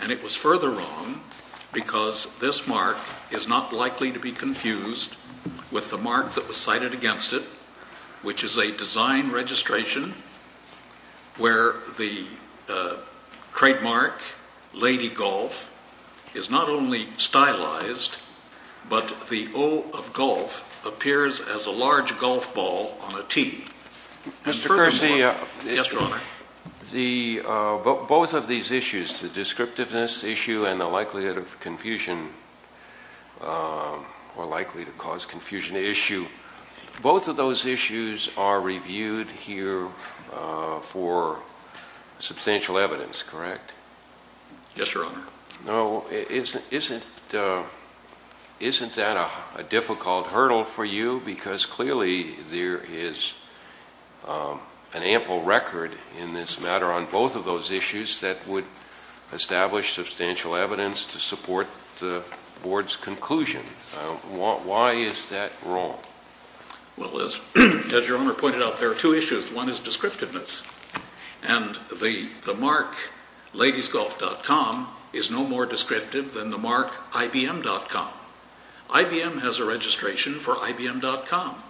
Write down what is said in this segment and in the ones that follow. And it was further wrong because this mark is not likely to be confused with the mark that was cited against it, which is a design registration where the trademark, Lady Golf, is not only stylized, but the O of golf appears as a large golf ball on a tee. Mr. Kersey, both of these issues, the descriptiveness issue and the likelihood of confusion or likely to cause confusion issue, both of those issues are reviewed here for substantial evidence, correct? Yes, Your Honor. Isn't that a difficult hurdle for you because clearly there is an ample record in this matter on both of those issues that would establish substantial evidence to support the Board's conclusion. Why is that wrong? Well, as Your Honor pointed out, there are two issues. One is descriptiveness. And the mark ladiesgolf.com is no more descriptive than the mark ibm.com. IBM has a registration for ibm.com.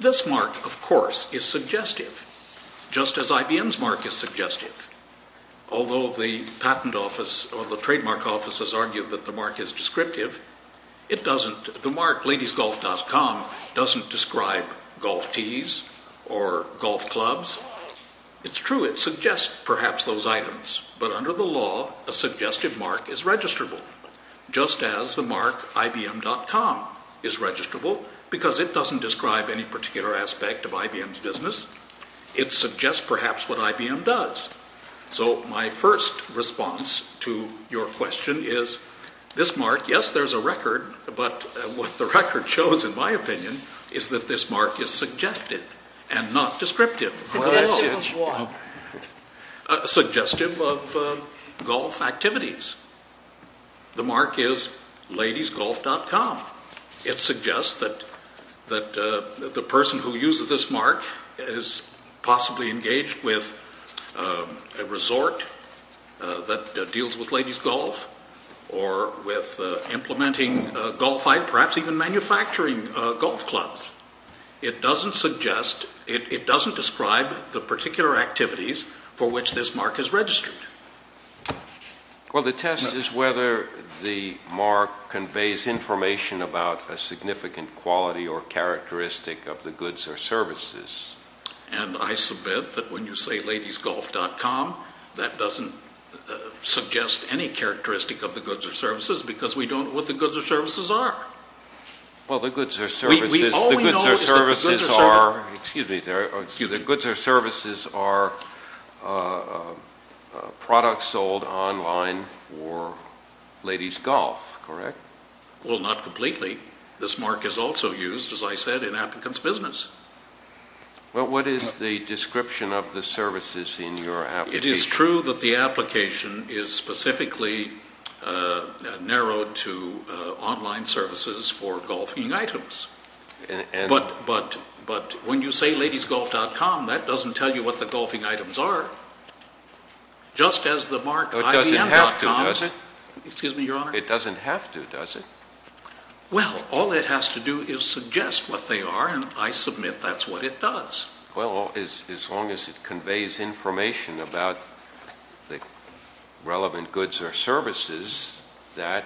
This mark, of course, is suggestive, just as IBM's mark is suggestive. Although the patent office or the trademark office has argued that the mark is descriptive, the mark ladiesgolf.com doesn't describe golf tees or golf clubs. It's true, it suggests perhaps those items. But under the law, a suggestive mark is registrable just as the mark ibm.com is registrable because it doesn't describe any particular aspect of IBM's business. It suggests perhaps what IBM does. So my first response to your question is this mark, yes, there's a record, but what the record shows, in my opinion, is that this mark is suggestive and not descriptive. Suggestive of what? Suggestive of golf activities. The mark is ladiesgolf.com. It suggests that the person who uses this mark is possibly engaged with a resort that deals with ladies golf or with implementing golf, perhaps even manufacturing golf clubs. It doesn't suggest, it doesn't describe the particular activities for which this mark is registered. Well, the test is whether the mark conveys information about a significant quality or characteristic of the goods or services. And I submit that when you say ladiesgolf.com, that doesn't suggest any characteristic of the goods or services because we don't know what the goods or services are. Well, the goods or services are products sold online for ladies golf, correct? Well, not completely. This mark is also used, as I said, in applicants' business. Well, what is the description of the services in your application? It is true that the application is specifically narrowed to online services for golfing items. But when you say ladiesgolf.com, that doesn't tell you what the golfing items are, just as the mark IBM.com It doesn't have to, does it? Excuse me, Your Honor? It doesn't have to, does it? Well, all it has to do is suggest what they are, and I submit that's what it does. Well, as long as it conveys information about the relevant goods or services, that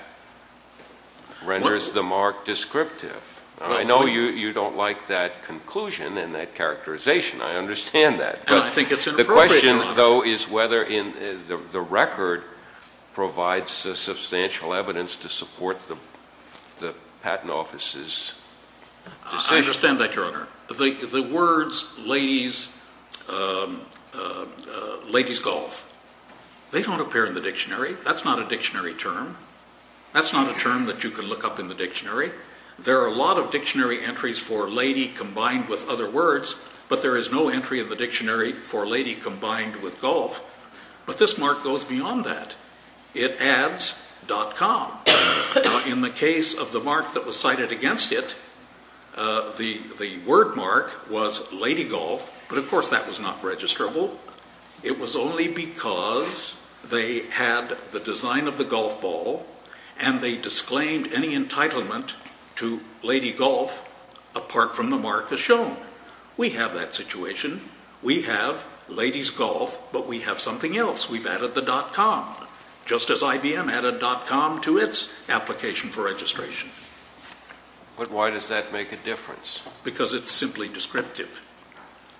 renders the mark descriptive. I know you don't like that conclusion and that characterization. I understand that. I think it's inappropriate, Your Honor. The question, though, is whether the record provides substantial evidence to support the patent office's decision. I understand that, Your Honor. The words ladies golf, they don't appear in the dictionary. That's not a dictionary term. That's not a term that you can look up in the dictionary. There are a lot of dictionary entries for lady combined with other words, but there is no entry in the dictionary for lady combined with golf. But this mark goes beyond that. It adds .com. In the case of the mark that was cited against it, the word mark was lady golf, but of course that was not registrable. It was only because they had the design of the golf ball and they disclaimed any entitlement to lady golf apart from the mark as shown. We have that situation. We have ladies golf, but we have something else. We've added the .com, just as IBM added .com to its application for registration. But why does that make a difference? Because it's simply descriptive.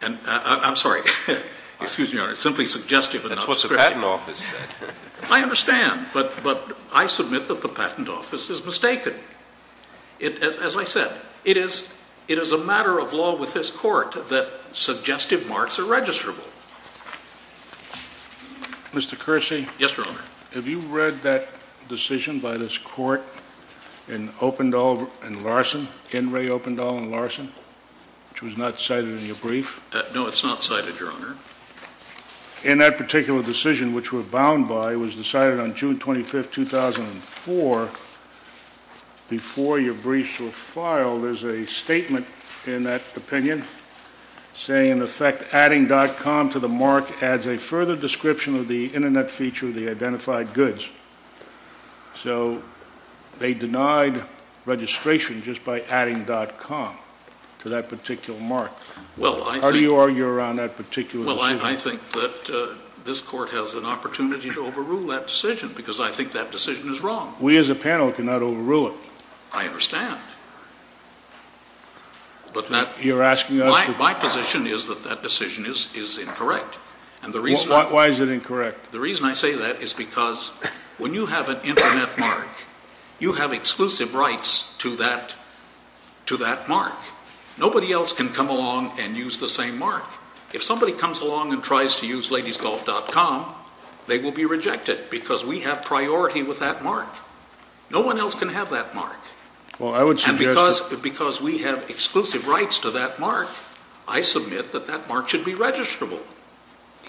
I'm sorry. Excuse me, Your Honor. It's simply suggestive and not descriptive. That's what the patent office said. I understand, but I submit that the patent office is mistaken. As I said, it is a matter of law with this court that suggestive marks are registrable. Mr. Kersey? Yes, Your Honor. Have you read that decision by this court in Opendahl and Larson, N. Ray Opendahl and Larson, which was not cited in your brief? No, it's not cited, Your Honor. In that particular decision, which we're bound by, it was decided on June 25, 2004, before your briefs were filed, there's a statement in that opinion saying, in effect, adding .com to the mark adds a further description of the Internet feature of the identified goods. So they denied registration just by adding .com to that particular mark. How do you argue around that particular decision? Well, I think that this court has an opportunity to overrule that decision because I think that decision is wrong. We as a panel cannot overrule it. I understand, but my position is that that decision is incorrect. Why is it incorrect? The reason I say that is because when you have an Internet mark, you have exclusive rights to that mark. Nobody else can come along and use the same mark. If somebody comes along and tries to use ladiesgolf.com, they will be rejected because we have priority with that mark. No one else can have that mark. And because we have exclusive rights to that mark, I submit that that mark should be registrable.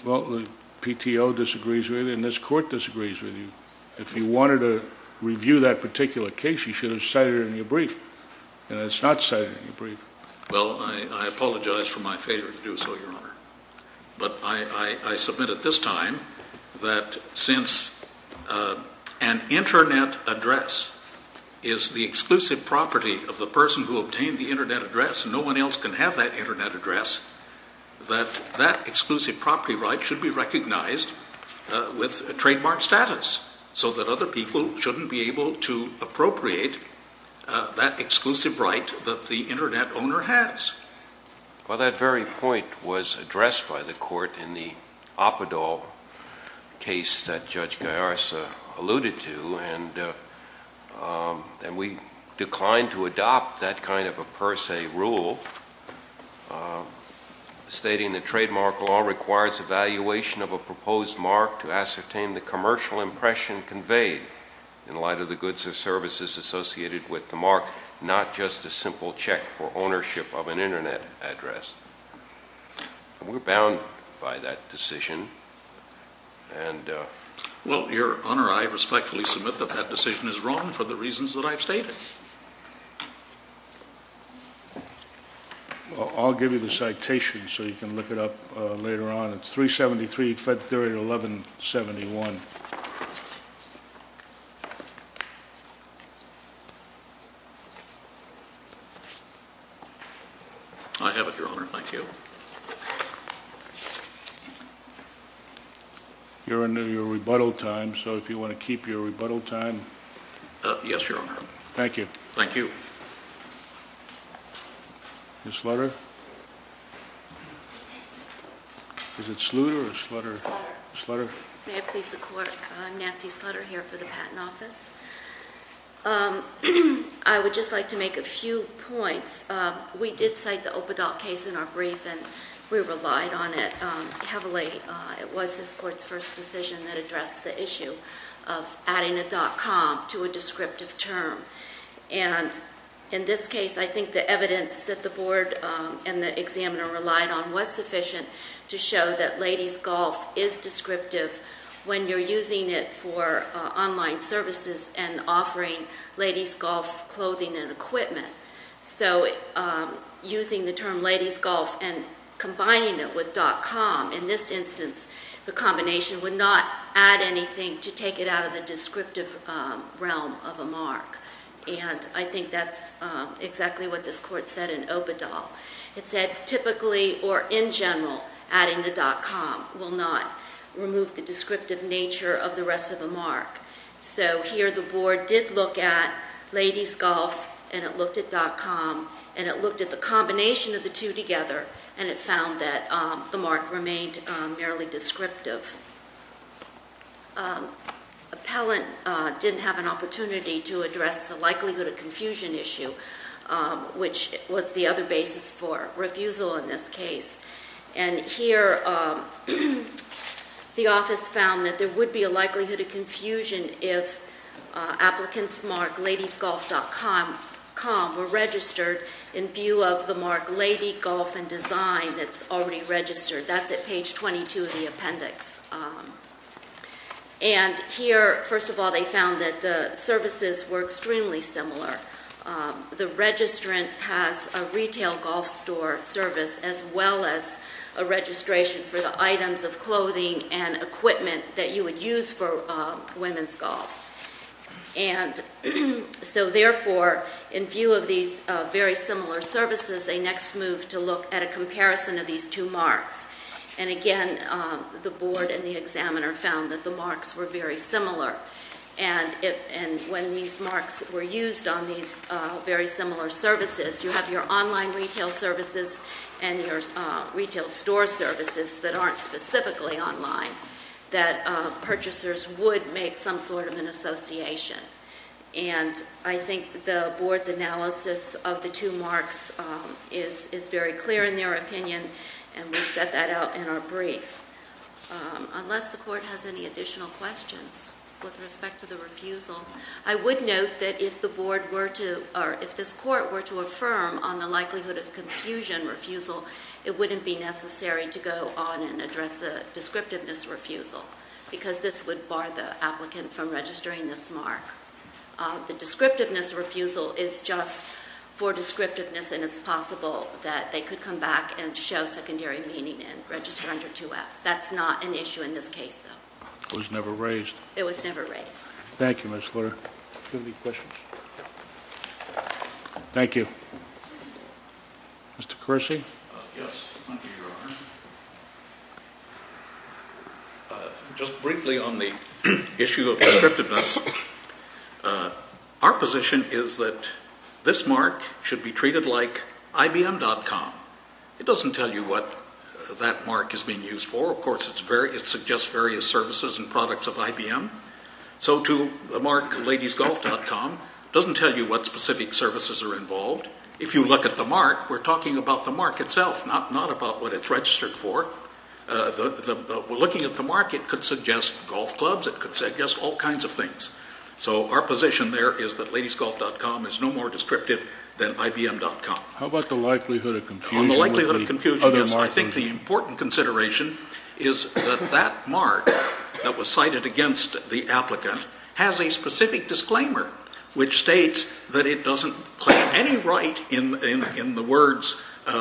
Well, the PTO disagrees with you and this court disagrees with you. If you wanted to review that particular case, you should have cited it in your brief. And it's not cited in your brief. Well, I apologize for my failure to do so, Your Honor. But I submit at this time that since an Internet address is the exclusive property of the person who obtained the Internet address, no one else can have that Internet address, that that exclusive property right should be recognized with a trademark status so that other people shouldn't be able to appropriate that exclusive right that the Internet owner has. Well, that very point was addressed by the court in the Apadol case that Judge Gallarza alluded to. And we declined to adopt that kind of a per se rule stating that trademark law requires evaluation of a proposed mark to ascertain the commercial impression conveyed in light of the goods or services associated with the mark, not just a simple check for ownership of an Internet address. We're bound by that decision. Well, Your Honor, I respectfully submit that that decision is wrong for the reasons that I've stated. I'll give you the citation so you can look it up later on. It's 373 Fed Theory 1171. I have it, Your Honor. Thank you. You're under your rebuttal time, so if you want to keep your rebuttal time. Yes, Your Honor. Thank you. Thank you. Ms. Sluter? Is it Sluter or Sluter? Sluter. Sluter. May it please the Court, I'm Nancy Sluter here for the Patent Office. I would just like to make a few points. We did cite the Opadol case in our brief, and we relied on it heavily. It was this Court's first decision that addressed the issue of adding a dot-com to a descriptive term. And in this case, I think the evidence that the Board and the examiner relied on was sufficient to show that ladies' golf is descriptive when you're using it for online services and offering ladies' golf clothing and equipment. So using the term ladies' golf and combining it with dot-com, in this instance, the combination would not add anything to take it out of the descriptive realm of a mark. And I think that's exactly what this Court said in Opadol. It said typically, or in general, adding the dot-com will not remove the descriptive nature of the rest of the mark. So here the Board did look at ladies' golf, and it looked at dot-com, and it looked at the combination of the two together, and it found that the mark remained merely descriptive. Appellant didn't have an opportunity to address the likelihood of confusion issue, which was the other basis for refusal in this case. And here the office found that there would be a likelihood of confusion if applicants marked ladiesgolf.com were registered in view of the mark lady golf and design that's already registered. That's at page 22 of the appendix. And here, first of all, they found that the services were extremely similar. The registrant has a retail golf store service as well as a registration for the items of clothing and equipment that you would use for women's golf. And so therefore, in view of these very similar services, they next moved to look at a comparison of these two marks. And again, the Board and the examiner found that the marks were very similar. And when these marks were used on these very similar services, you have your online retail services and your retail store services that aren't specifically online, that purchasers would make some sort of an association. And I think the Board's analysis of the two marks is very clear in their opinion, and we set that out in our brief. Unless the Court has any additional questions with respect to the refusal, I would note that if this Court were to affirm on the likelihood of confusion refusal, it wouldn't be necessary to go on and address the descriptiveness refusal, because this would bar the applicant from registering this mark. The descriptiveness refusal is just for descriptiveness, and it's possible that they could come back and show secondary meaning and register under 2F. That's not an issue in this case, though. It was never raised. It was never raised. Thank you, Ms. Lutter. Do you have any questions? No. Thank you. Mr. Kersey? Yes, under your honor. Just briefly on the issue of descriptiveness, our position is that this mark should be treated like IBM.com. It doesn't tell you what that mark is being used for. Of course, it suggests various services and products of IBM. So to the mark ladiesgolf.com doesn't tell you what specific services are involved. If you look at the mark, we're talking about the mark itself, not about what it's registered for. Looking at the mark, it could suggest golf clubs. It could suggest all kinds of things. So our position there is that ladiesgolf.com is no more descriptive than IBM.com. How about the likelihood of confusion? On the likelihood of confusion, yes. I think the important consideration is that that mark that was cited against the applicant has a specific disclaimer which states that it doesn't claim any right in the words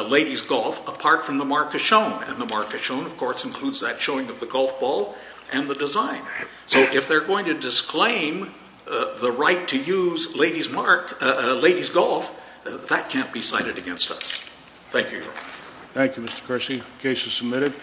ladies golf apart from the mark as shown. And the mark as shown, of course, includes that showing of the golf ball and the design. So if they're going to disclaim the right to use ladies golf, that can't be cited against us. Thank you, your honor. Thank you, Mr. Kersey. The case is submitted.